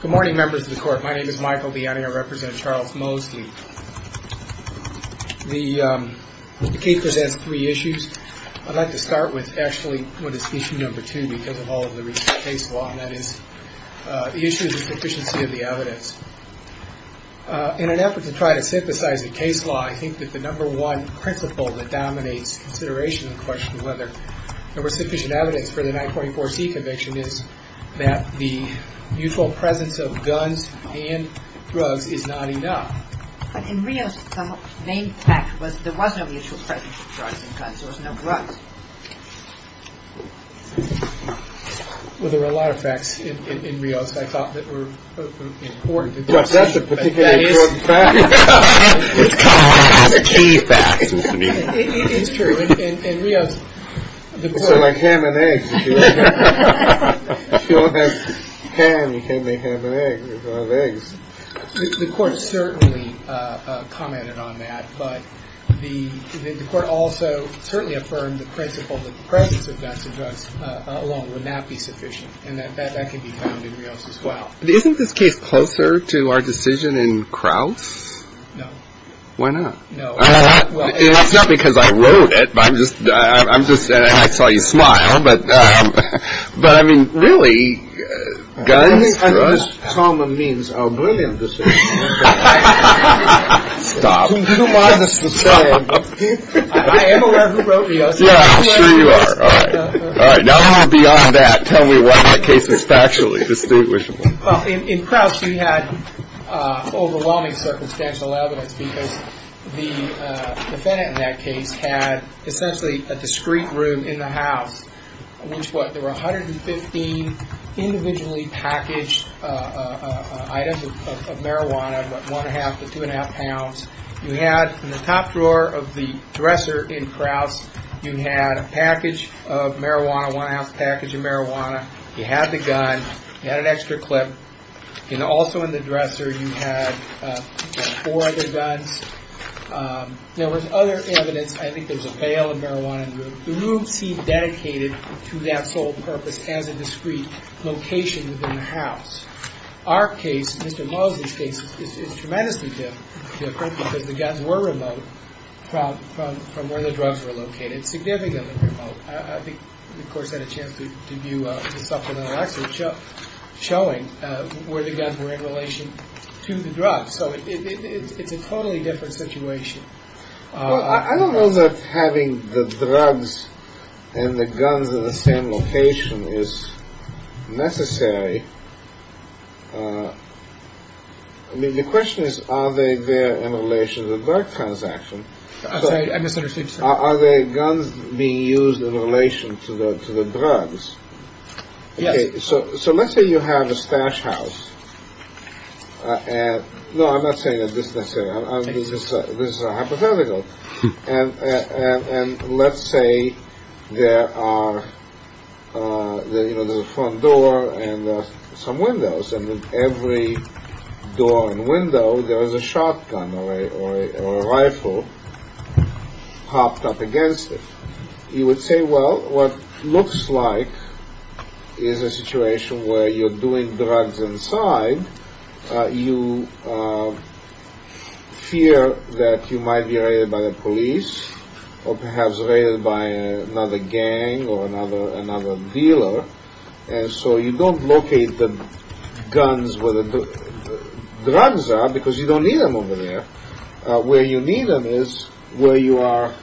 Good morning, members of the Court. My name is Michael Bianni. I represent Charles Mosley. The case presents three issues. I'd like to start with actually what is issue number two because of all of the recent case law, and that is the issue of the sufficiency of the evidence. In an effort to try to synthesize the case law, I think that the number one principle that dominates consideration of the question of whether there was sufficient evidence for the 944C conviction is that the mutual presence of guns and drugs is not enough. But in Rios, the main fact was there was no mutual presence of drugs and guns. There was no drugs. Well, there were a lot of facts in Rios that I thought that were important. But that's a particularly important fact. It's kind of a key fact. It's true. In Rios, the court… It's like ham and eggs. If you don't have ham, you can't make ham and eggs. You have to have eggs. The court certainly commented on that. But the court also certainly affirmed the principle that the presence of guns and drugs alone would not be sufficient, and that that can be found in Rios as well. Isn't this case closer to our decision in Krauss? No. Why not? It's not because I wrote it. I saw you smile. But, I mean, really, guns, drugs… I think this trauma means a brilliant decision. Stop. I am aware who wrote Rios. Yeah, I'm sure you are. All right. Now, beyond that, tell me why that case was factually distinguishable. Well, in Krauss, you had overwhelming circumstantial evidence, because the defendant in that case had essentially a discreet room in the house, in which, what, there were 115 individually packaged items of marijuana, about 1 1⁄2 to 2 1⁄2 pounds. You had, in the top drawer of the dresser in Krauss, you had a package of marijuana, 1 1⁄2 package of marijuana. You had the gun, you had an extra clip, and also in the dresser you had four other guns. There was other evidence. I think there was a bale of marijuana in the room. The room seemed dedicated to that sole purpose as a discreet location within the house. Our case, Mr. Mosley's case, is tremendously different, because the guns were remote from where the drugs were located, significantly remote. I think, of course, I had a chance to view the supplemental excerpt showing where the guns were in relation to the drugs. So it's a totally different situation. Well, I don't know that having the drugs and the guns in the same location is necessary. I mean, the question is, are they there in relation to the drug transaction? I'm sorry, I misunderstood you, sir. Are the guns being used in relation to the drugs? Yes. Okay, so let's say you have a stash house. No, I'm not saying that this is necessary. This is hypothetical. And let's say there are, you know, there's a front door and some windows, and with every door and window there is a shotgun or a rifle popped up against it. You would say, well, what looks like is a situation where you're doing drugs inside. You fear that you might be raided by the police or perhaps raided by another gang or another dealer. And so you don't locate the guns where the drugs are because you don't need them over there. Where you need them is where you are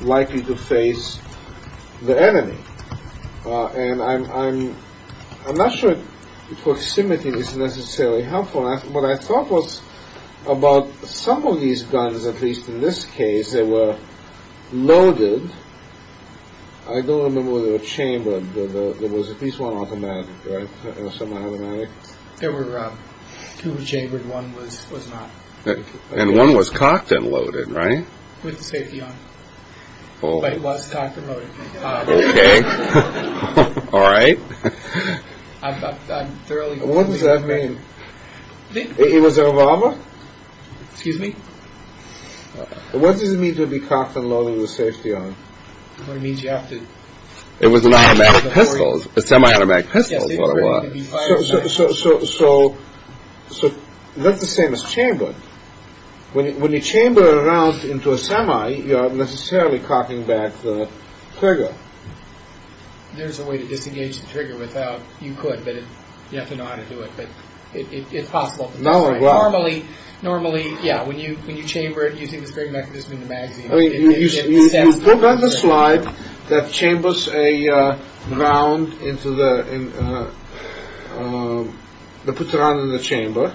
likely to face the enemy. And I'm not sure proximity is necessarily helpful. What I thought was about some of these guns, at least in this case, they were loaded. I don't remember whether they were chambered. There was at least one automatic, right? A semi-automatic? There were two chambered. One was not. And one was cocked and loaded, right? With the safety on. But it was cocked and loaded. Okay. All right. What does that mean? It was a revolver? Excuse me? What does it mean to be cocked and loaded with safety on? It means you have to... It was an automatic pistol. A semi-automatic pistol is what it was. So that's the same as chambered. When you chamber a round into a semi, you're not necessarily cocking back the trigger. There's a way to disengage the trigger without... You could, but you have to know how to do it. But it's possible. Normally, yeah, when you chamber it using this great mechanism in the magazine... You put on the slide that chambers a round into the... They put the round in the chamber.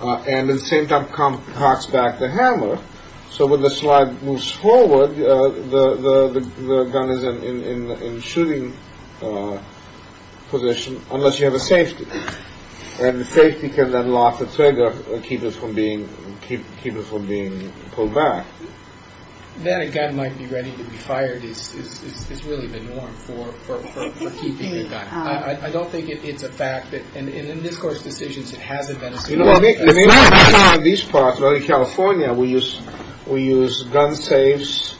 And at the same time, cocks back the hammer. So when the slide moves forward, the gun is in shooting position, unless you have a safety. And the safety can then lock the trigger and keep it from being pulled back. Then a gun might be ready to be fired is really the norm for keeping a gun. I don't think it's a fact that... And in this court's decisions, it hasn't been a... It may not be found in these parts, but in California, we use gun safes.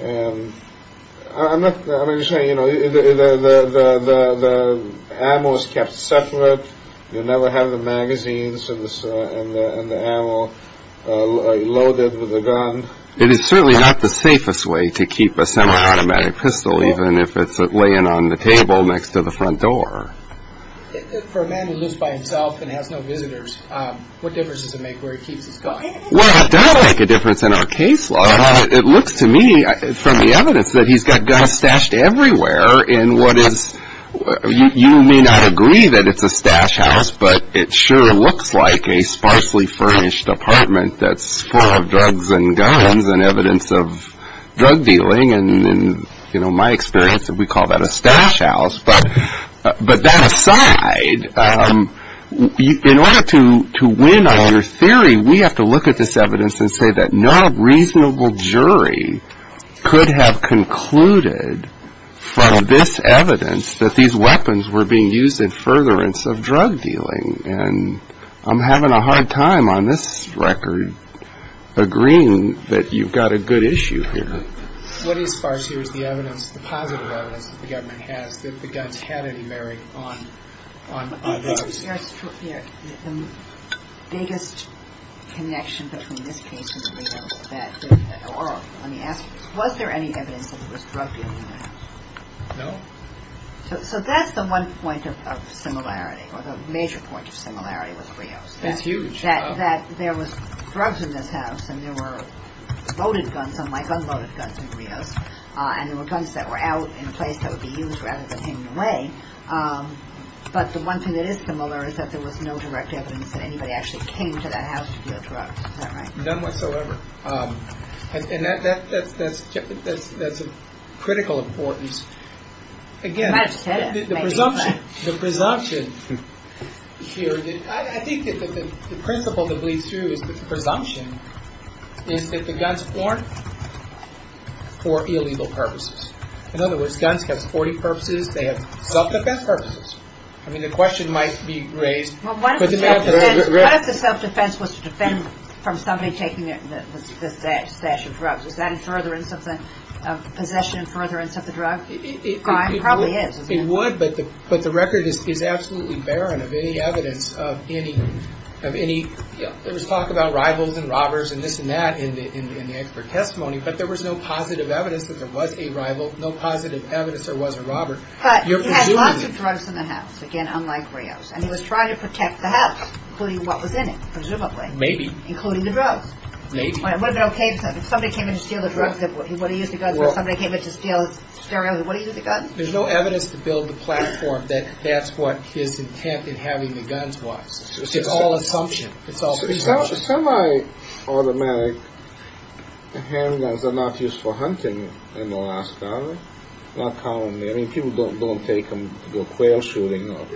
I'm not saying... The ammo is kept separate. You never have the magazines and the ammo loaded with the gun. It is certainly not the safest way to keep a semi-automatic pistol, even if it's laying on the table next to the front door. For a man who lives by himself and has no visitors, what difference does it make where he keeps his gun? Well, it does make a difference in our case law. But it looks to me, from the evidence, that he's got guns stashed everywhere in what is... You may not agree that it's a stash house, but it sure looks like a sparsely furnished apartment that's full of drugs and guns and evidence of drug dealing. In my experience, we call that a stash house. But that aside, in order to win on your theory, we have to look at this evidence and say that no reasonable jury could have concluded from this evidence that these weapons were being used in furtherance of drug dealing. And I'm having a hard time, on this record, agreeing that you've got a good issue here. What is sparse here is the evidence, the positive evidence, that the government has that the guns had any bearing on those. The biggest connection between this case and Rios, let me ask you this. Was there any evidence that there was drug dealing there? No. So that's the one point of similarity, or the major point of similarity with Rios. It's huge. That there was drugs in this house and there were loaded guns, unlike unloaded guns in Rios, and there were guns that were out in a place that would be used rather than taken away. But the one thing that is similar is that there was no direct evidence that anybody actually came to that house to deal drugs. Is that right? None whatsoever. And that's of critical importance. Again, the presumption here, I think that the principle that bleeds through is the presumption is that the guns weren't for illegal purposes. In other words, guns have 40 purposes. They have self-defense purposes. I mean, the question might be raised. What if the self-defense was to defend from somebody taking a stash of drugs? Is that in furtherance of the possession, in furtherance of the drug crime? It probably is. It would, but the record is absolutely barren of any evidence of any... There was talk about rivals and robbers and this and that in the expert testimony, but there was no positive evidence that there was a rival, no positive evidence there was a robber. But he had lots of drugs in the house, again, unlike Rios, and he was trying to protect the house, including what was in it, presumably. Maybe. Including the drugs. Maybe. It wouldn't have been okay if somebody came in to steal the drugs. He would have used the guns. If somebody came in to steal his stereo, he would have used the guns. There's no evidence to build the platform that that's what his intent in having the guns was. It's all assumption. Semi-automatic handguns are not used for hunting in Alaska, not commonly. I mean, people don't take them to go quail shooting or...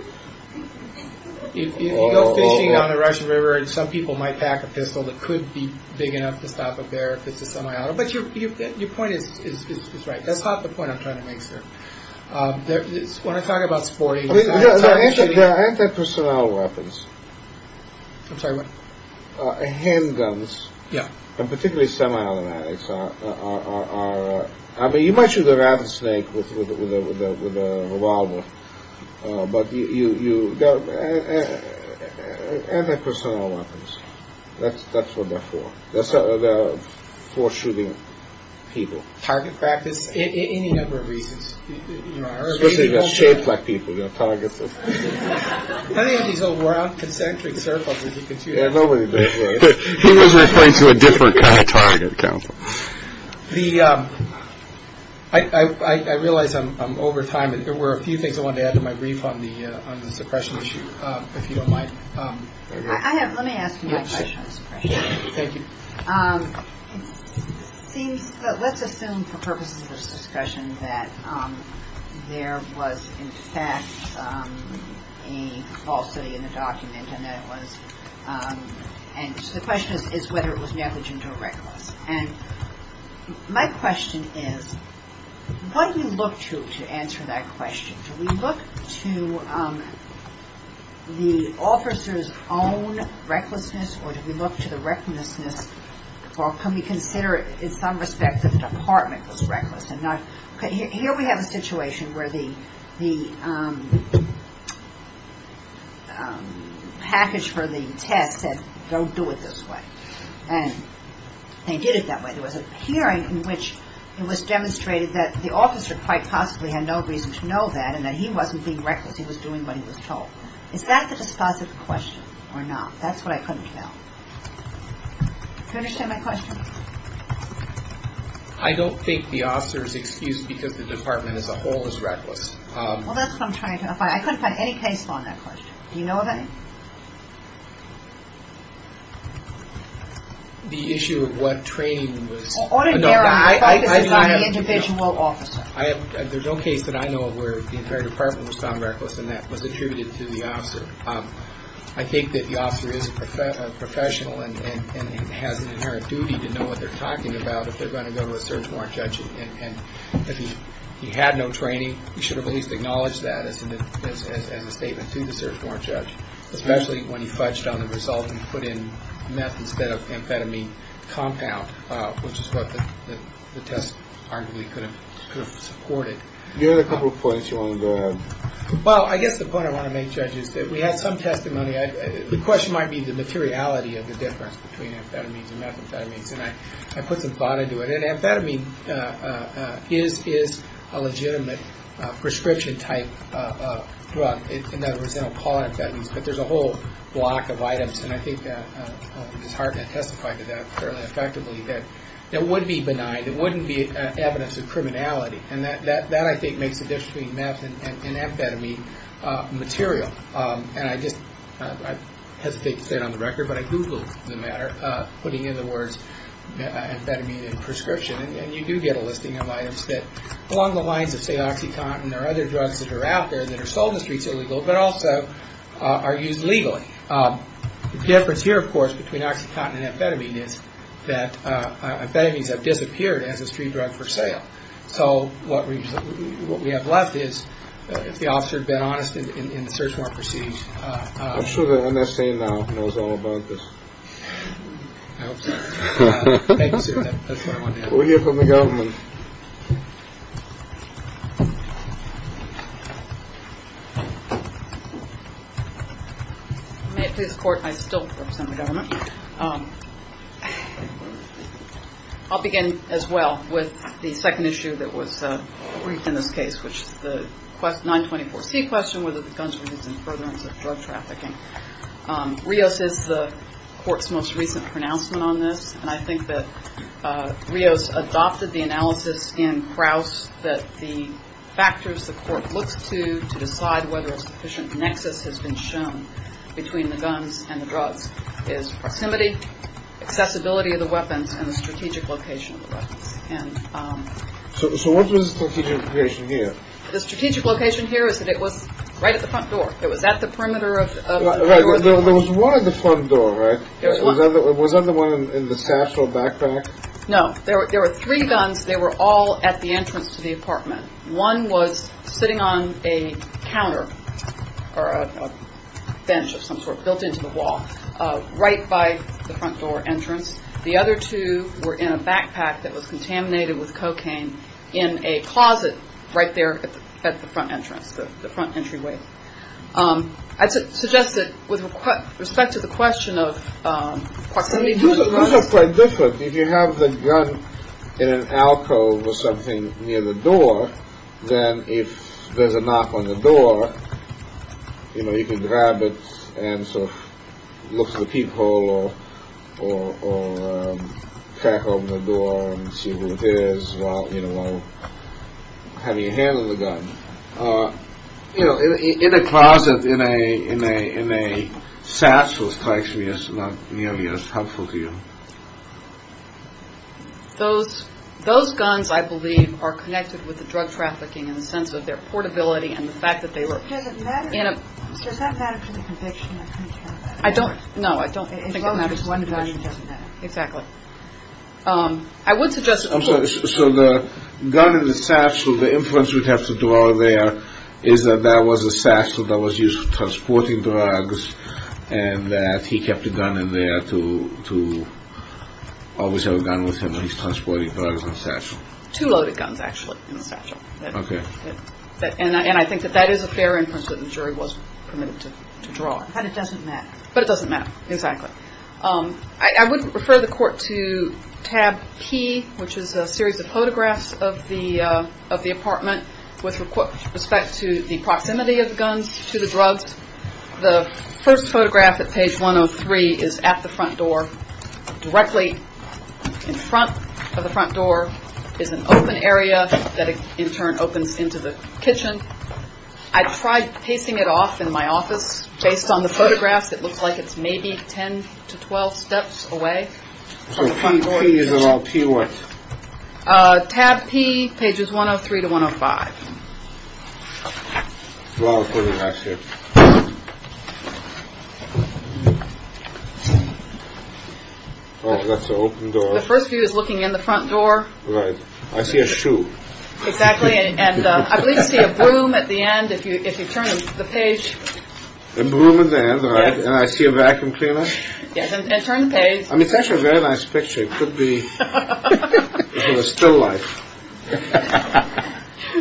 If you go fishing on the Russian River, some people might pack a pistol that could be big enough to stop a bear if it's a semi-auto. But your point is right. That's not the point I'm trying to make, sir. When I talk about sporting... They're anti-personnel weapons. I'm sorry, what? Handguns. Yeah. And particularly semi-automatics are... I mean, you might shoot a rattlesnake with a revolver, but they're anti-personnel weapons. That's what they're for. They're for shooting people. Target practice? Any number of reasons. Especially if it's shaped like people. You know, targets... Any of these old concentric circles... He was referring to a different kind of target, Counselor. I realize I'm over time, but there were a few things I wanted to add to my brief on the suppression issue, if you don't mind. Let me ask you my question on suppression. Thank you. It seems... Let's assume, for purposes of this discussion, that there was, in fact, a falsity in the document, and that it was... The question is whether it was negligent or reckless. And my question is, what do you look to to answer that question? Do we look to the officer's own recklessness, or do we look to the recklessness... Or can we consider, in some respect, that the department was reckless and not... Here we have a situation where the package for the test said, don't do it this way. And they did it that way. There was a hearing in which it was demonstrated that the officer quite possibly had no reason to know that, and that he wasn't being reckless. He was doing what he was told. Is that the dispositive question or not? That's what I couldn't tell. Do you understand my question? I don't think the officer is excused because the department as a whole is reckless. Well, that's what I'm trying to... I couldn't find any case law on that question. Do you know of any? The issue of what training was... Ordinary. My focus is on the individual officer. There's no case that I know of where the entire department was found reckless, and that was attributed to the officer. I think that the officer is a professional and has an inherent duty to know what they're talking about if they're going to go to a search warrant judge. And if he had no training, he should have at least acknowledged that as a statement to the search warrant judge, especially when he fudged on the result and put in meth instead of amphetamine compound, which is what the test arguably could have supported. Do you have a couple of points you want to go ahead? Well, I guess the point I want to make, Judge, is that we had some testimony. The question might be the materiality of the difference between amphetamines and methamphetamines, and I put some thought into it. And amphetamine is a legitimate prescription-type drug. In other words, they don't call it amphetamines, but there's a whole block of items, and I think it's hard to testify to that fairly effectively, that it would be benign. It wouldn't be evidence of criminality. And that, I think, makes the difference between meth and amphetamine material. And I just hesitate to say it on the record, but I Googled the matter, putting in the words amphetamine in prescription, and you do get a listing of items that along the lines of, say, OxyContin or other drugs that are out there that are sold in the streets illegally but also are used legally. The difference here, of course, between OxyContin and amphetamine is that amphetamines have disappeared as a street drug for sale. So what we have left is, if the officer had been honest in the search warrant proceedings. I'm sure the NSA now knows all about this. I hope so. Thank you, sir. That's what I wanted to ask. We'll hear from the government. May it please the Court, I still represent the government. I'll begin as well with the second issue that was briefed in this case, which is the 924C question, whether the guns were used in furtherance of drug trafficking. Rios is the Court's most recent pronouncement on this, and I think that Rios adopted the analysis in Krauss that the factors the Court looks to to decide whether a sufficient nexus has been shown between the guns and the drugs is proximity, accessibility of the weapons, and the strategic location of the weapons. So what was the strategic location here? The strategic location here is that it was right at the front door. It was at the perimeter of the front door. There was one at the front door, right? There was one. Was that the one in the satchel backpack? No. There were three guns. They were all at the entrance to the apartment. One was sitting on a counter or a bench of some sort built into the wall right by the front door entrance. The other two were in a backpack that was contaminated with cocaine in a closet right there at the front entrance, the front entryway. I'd suggest that with respect to the question of proximity to the drugs. Those are quite different. If you have the gun in an alcove or something near the door, then if there's a knock on the door, you know, you can grab it and sort of look for the peephole or crack open the door and see who it is while, you know, while having your hand on the gun. You know, in a closet in a in a in a satchel strikes me as not nearly as helpful to you. Those those guns, I believe, are connected with the drug trafficking in the sense of their portability and the fact that they were. You know, I don't know. I don't think it matters. Exactly. I would suggest. So the gun in the satchel, the inference we'd have to draw there is that that was a satchel that was used for transporting drugs and that he kept a gun in there to to always have a gun with him when he's transporting drugs in a satchel. Two loaded guns, actually. OK. And I think that that is a fair inference that the jury was permitted to draw. And it doesn't matter. But it doesn't matter. Exactly. I would refer the court to tab P, which is a series of photographs of the of the apartment with respect to the proximity of guns to the drugs. The first photograph at page one of three is at the front door directly in front of the front door is an open area that in turn opens into the kitchen. I tried pacing it off in my office based on the photographs. It looks like it's maybe 10 to 12 steps away. So he is a lot fewer. Tab P pages one of three to one of five. The first few is looking in the front door. I see a shoe. Exactly. And I see a broom at the end. If you if you turn the page over there. And I see a vacuum cleaner. Yes. And turn the page. I mean, it's actually a very nice picture. It could be still life.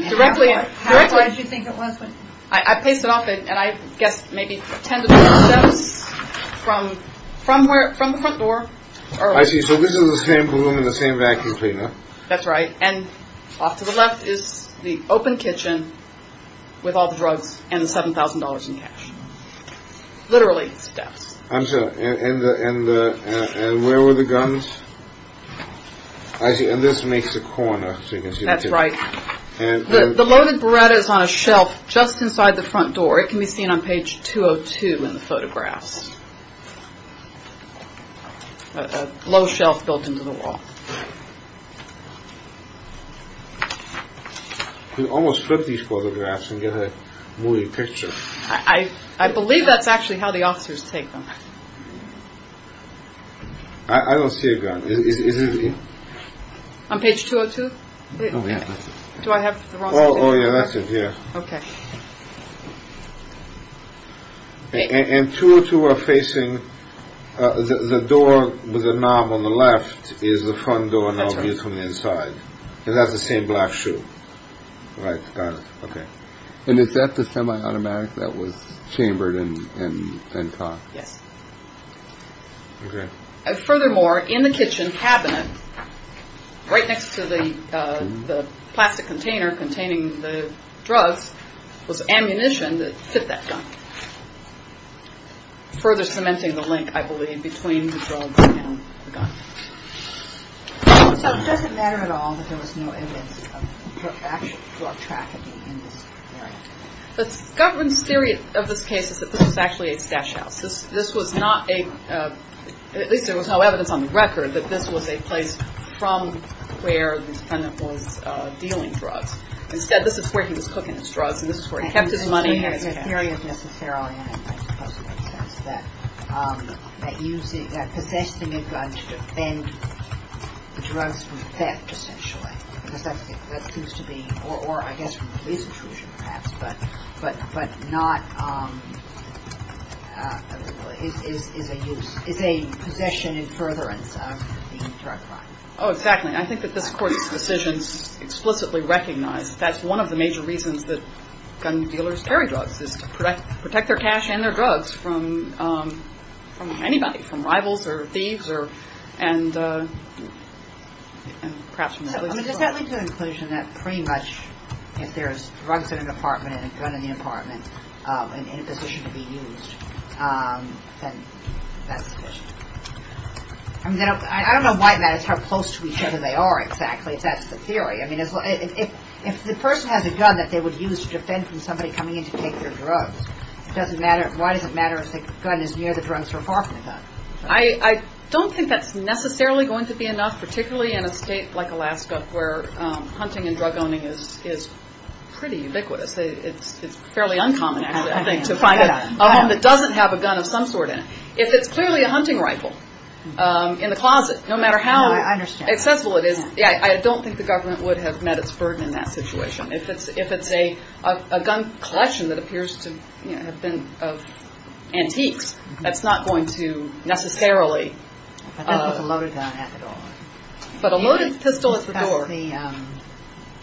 Directly. What did you think it was? I paced it off. And I guess maybe 10 to 12 steps from from where from the front door. I see. So this is the same room in the same vacuum cleaner. That's right. And off to the left is the open kitchen with all the drugs and seven thousand dollars in cash. Literally steps. And where were the guns? I see. And this makes a corner. That's right. And the loaded bread is on a shelf just inside the front door. It can be seen on page two or two in the photographs. A low shelf built into the wall. We almost flipped these photographs and get a movie picture. I believe that's actually how the officers take them. I don't see a gun. Is it on page two or two? Do I have. Oh, yeah. That's it. Yeah. OK. And two or two are facing the door with a knob on the left is the front door. And that's from the inside. And that's the same black shoe. Right. Got it. OK. And is that the semi-automatic that was chambered in? Yes. OK. Furthermore, in the kitchen cabinet, right next to the plastic container containing the drugs, was ammunition that fit that gun. Further cementing the link, I believe, between the drugs and the gun. So it doesn't matter at all that there was no evidence of actual drug trafficking in this area? The government's theory of this case is that this was actually a stash house. This was not a, at least there was no evidence on the record, that this was a place from where the defendant was dealing drugs. Instead, this is where he was cooking his drugs, and this is where he kept his money and his cash. The theory is necessarily, and I suppose it makes sense, that possessing a gun to defend the drugs from theft, essentially, because that seems to be, or I guess from police intrusion, perhaps, but not is a use, is a possession in furtherance of the drug crime. Oh, exactly. I think that this Court's decisions explicitly recognize that that's one of the major reasons that gun dealers carry drugs, is to protect their cash and their drugs from anybody, from rivals or thieves or perhaps from the police. Does that lead to the conclusion that pretty much if there's drugs in an apartment and a gun in the apartment in a position to be used, then that's sufficient? I don't know why it matters how close to each other they are exactly, if that's the theory. I mean, if the person has a gun that they would use to defend from somebody coming in to take their drugs, why does it matter if the gun is near the drugs or far from the gun? I don't think that's necessarily going to be enough, particularly in a state like Alaska where hunting and drug owning is pretty ubiquitous. It's fairly uncommon, actually, I think, to find a home that doesn't have a gun of some sort in it. If it's clearly a hunting rifle in the closet, no matter how accessible it is, I don't think the government would have met its burden in that situation. If it's a gun collection that appears to have been of antiques, that's not going to necessarily... I think it's a loaded gun after all. But a loaded pistol at the door. About the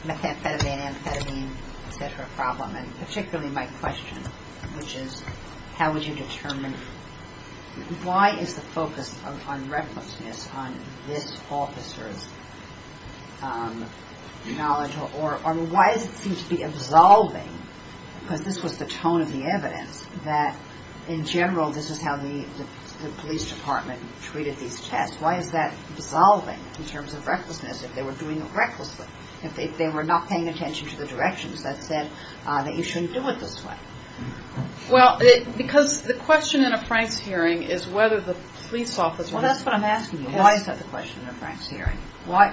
methamphetamine, amphetamine, et cetera, problem, and particularly my question, which is how would you determine... Why is the focus on recklessness on this officer's knowledge, or why does it seem to be absolving, because this was the tone of the evidence, that in general this is how the police department treated these tests. Why is that absolving in terms of recklessness if they were doing it recklessly, if they were not paying attention to the directions that said that you shouldn't do it this way? Well, because the question in a Franks hearing is whether the police officer... Well, that's what I'm asking you. Why is that the question in a Franks hearing? Or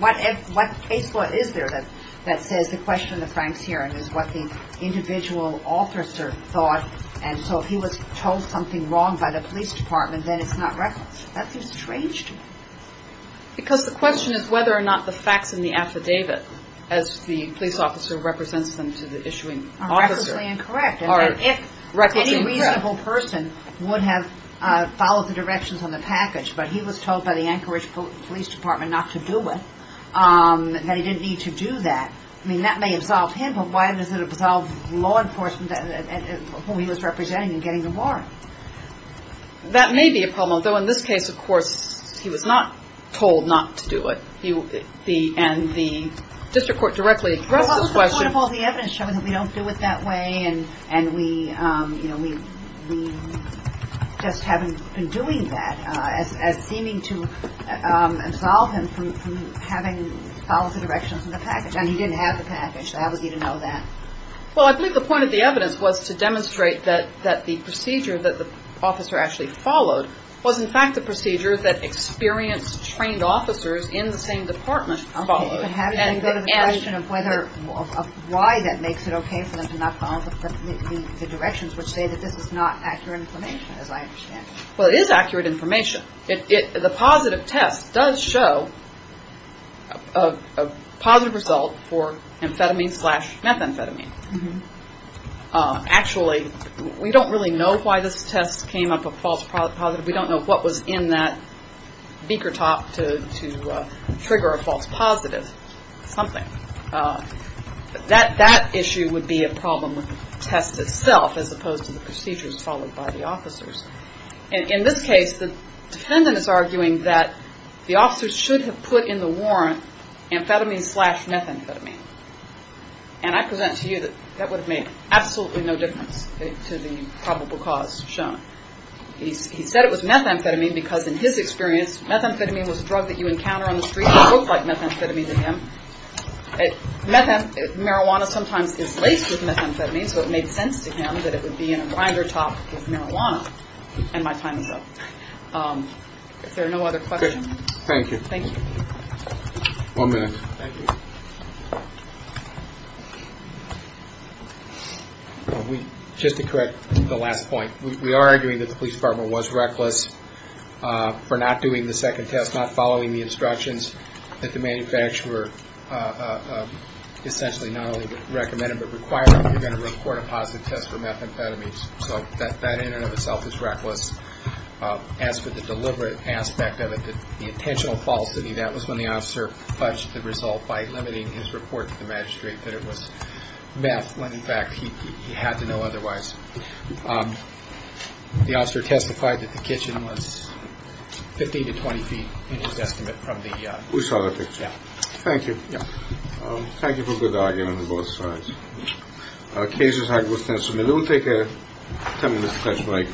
what case law is there that says the question in the Franks hearing is what the individual officer thought, and so if he was told something wrong by the police department, then it's not reckless. That seems strange to me. Because the question is whether or not the facts in the affidavit, as the police officer represents them to the issuing officer... Are recklessly incorrect. And if any reasonable person would have followed the directions on the package, but he was told by the Anchorage Police Department not to do it, that he didn't need to do that, that may absolve him, but why does it absolve law enforcement whom he was representing in getting the warrant? That may be a problem, though in this case, of course, he was not told not to do it, and the district court directly addresses the question... Well, that's the point of all the evidence showing that we don't do it that way, and we just haven't been doing that, as seeming to absolve him from having followed the directions in the package, and he didn't have the package. How was he to know that? Well, I believe the point of the evidence was to demonstrate that the procedure that the officer actually followed was, in fact, the procedure that experienced, trained officers in the same department followed. Okay, but having to go to the question of why that makes it okay for them to not follow the directions would say that this is not accurate information, as I understand it. Well, it is accurate information. The positive test does show a positive result for amphetamine slash methamphetamine. Actually, we don't really know why this test came up a false positive. We don't know what was in that beaker top to trigger a false positive, something. That issue would be a problem with the test itself, as opposed to the procedures followed by the officers. In this case, the defendant is arguing that the officers should have put in the warrant amphetamine slash methamphetamine, and I present to you that that would have made absolutely no difference to the probable cause shown. He said it was methamphetamine because, in his experience, methamphetamine was a drug that you encounter on the street and it looked like methamphetamine to him. Marijuana sometimes is laced with methamphetamine, so it made sense to him that it would be in a grinder top with marijuana. And my time is up. If there are no other questions. Thank you. Thank you. One minute. Thank you. Just to correct the last point, we are arguing that the police department was reckless for not doing the second test, not following the instructions that the manufacturer essentially not only recommended, but required, you're going to report a positive test for methamphetamines. So that in and of itself is reckless. As for the deliberate aspect of it, the intentional falsity, that was when the officer fudged the result by limiting his report to the magistrate that it was meth when, in fact, he had to know otherwise. The officer testified that the kitchen was 15 to 20 feet, in his estimate, from the... We saw the picture. Thank you. Thank you for a good argument on both sides. Cases have been submitted. We'll take a 10-minute discussion break.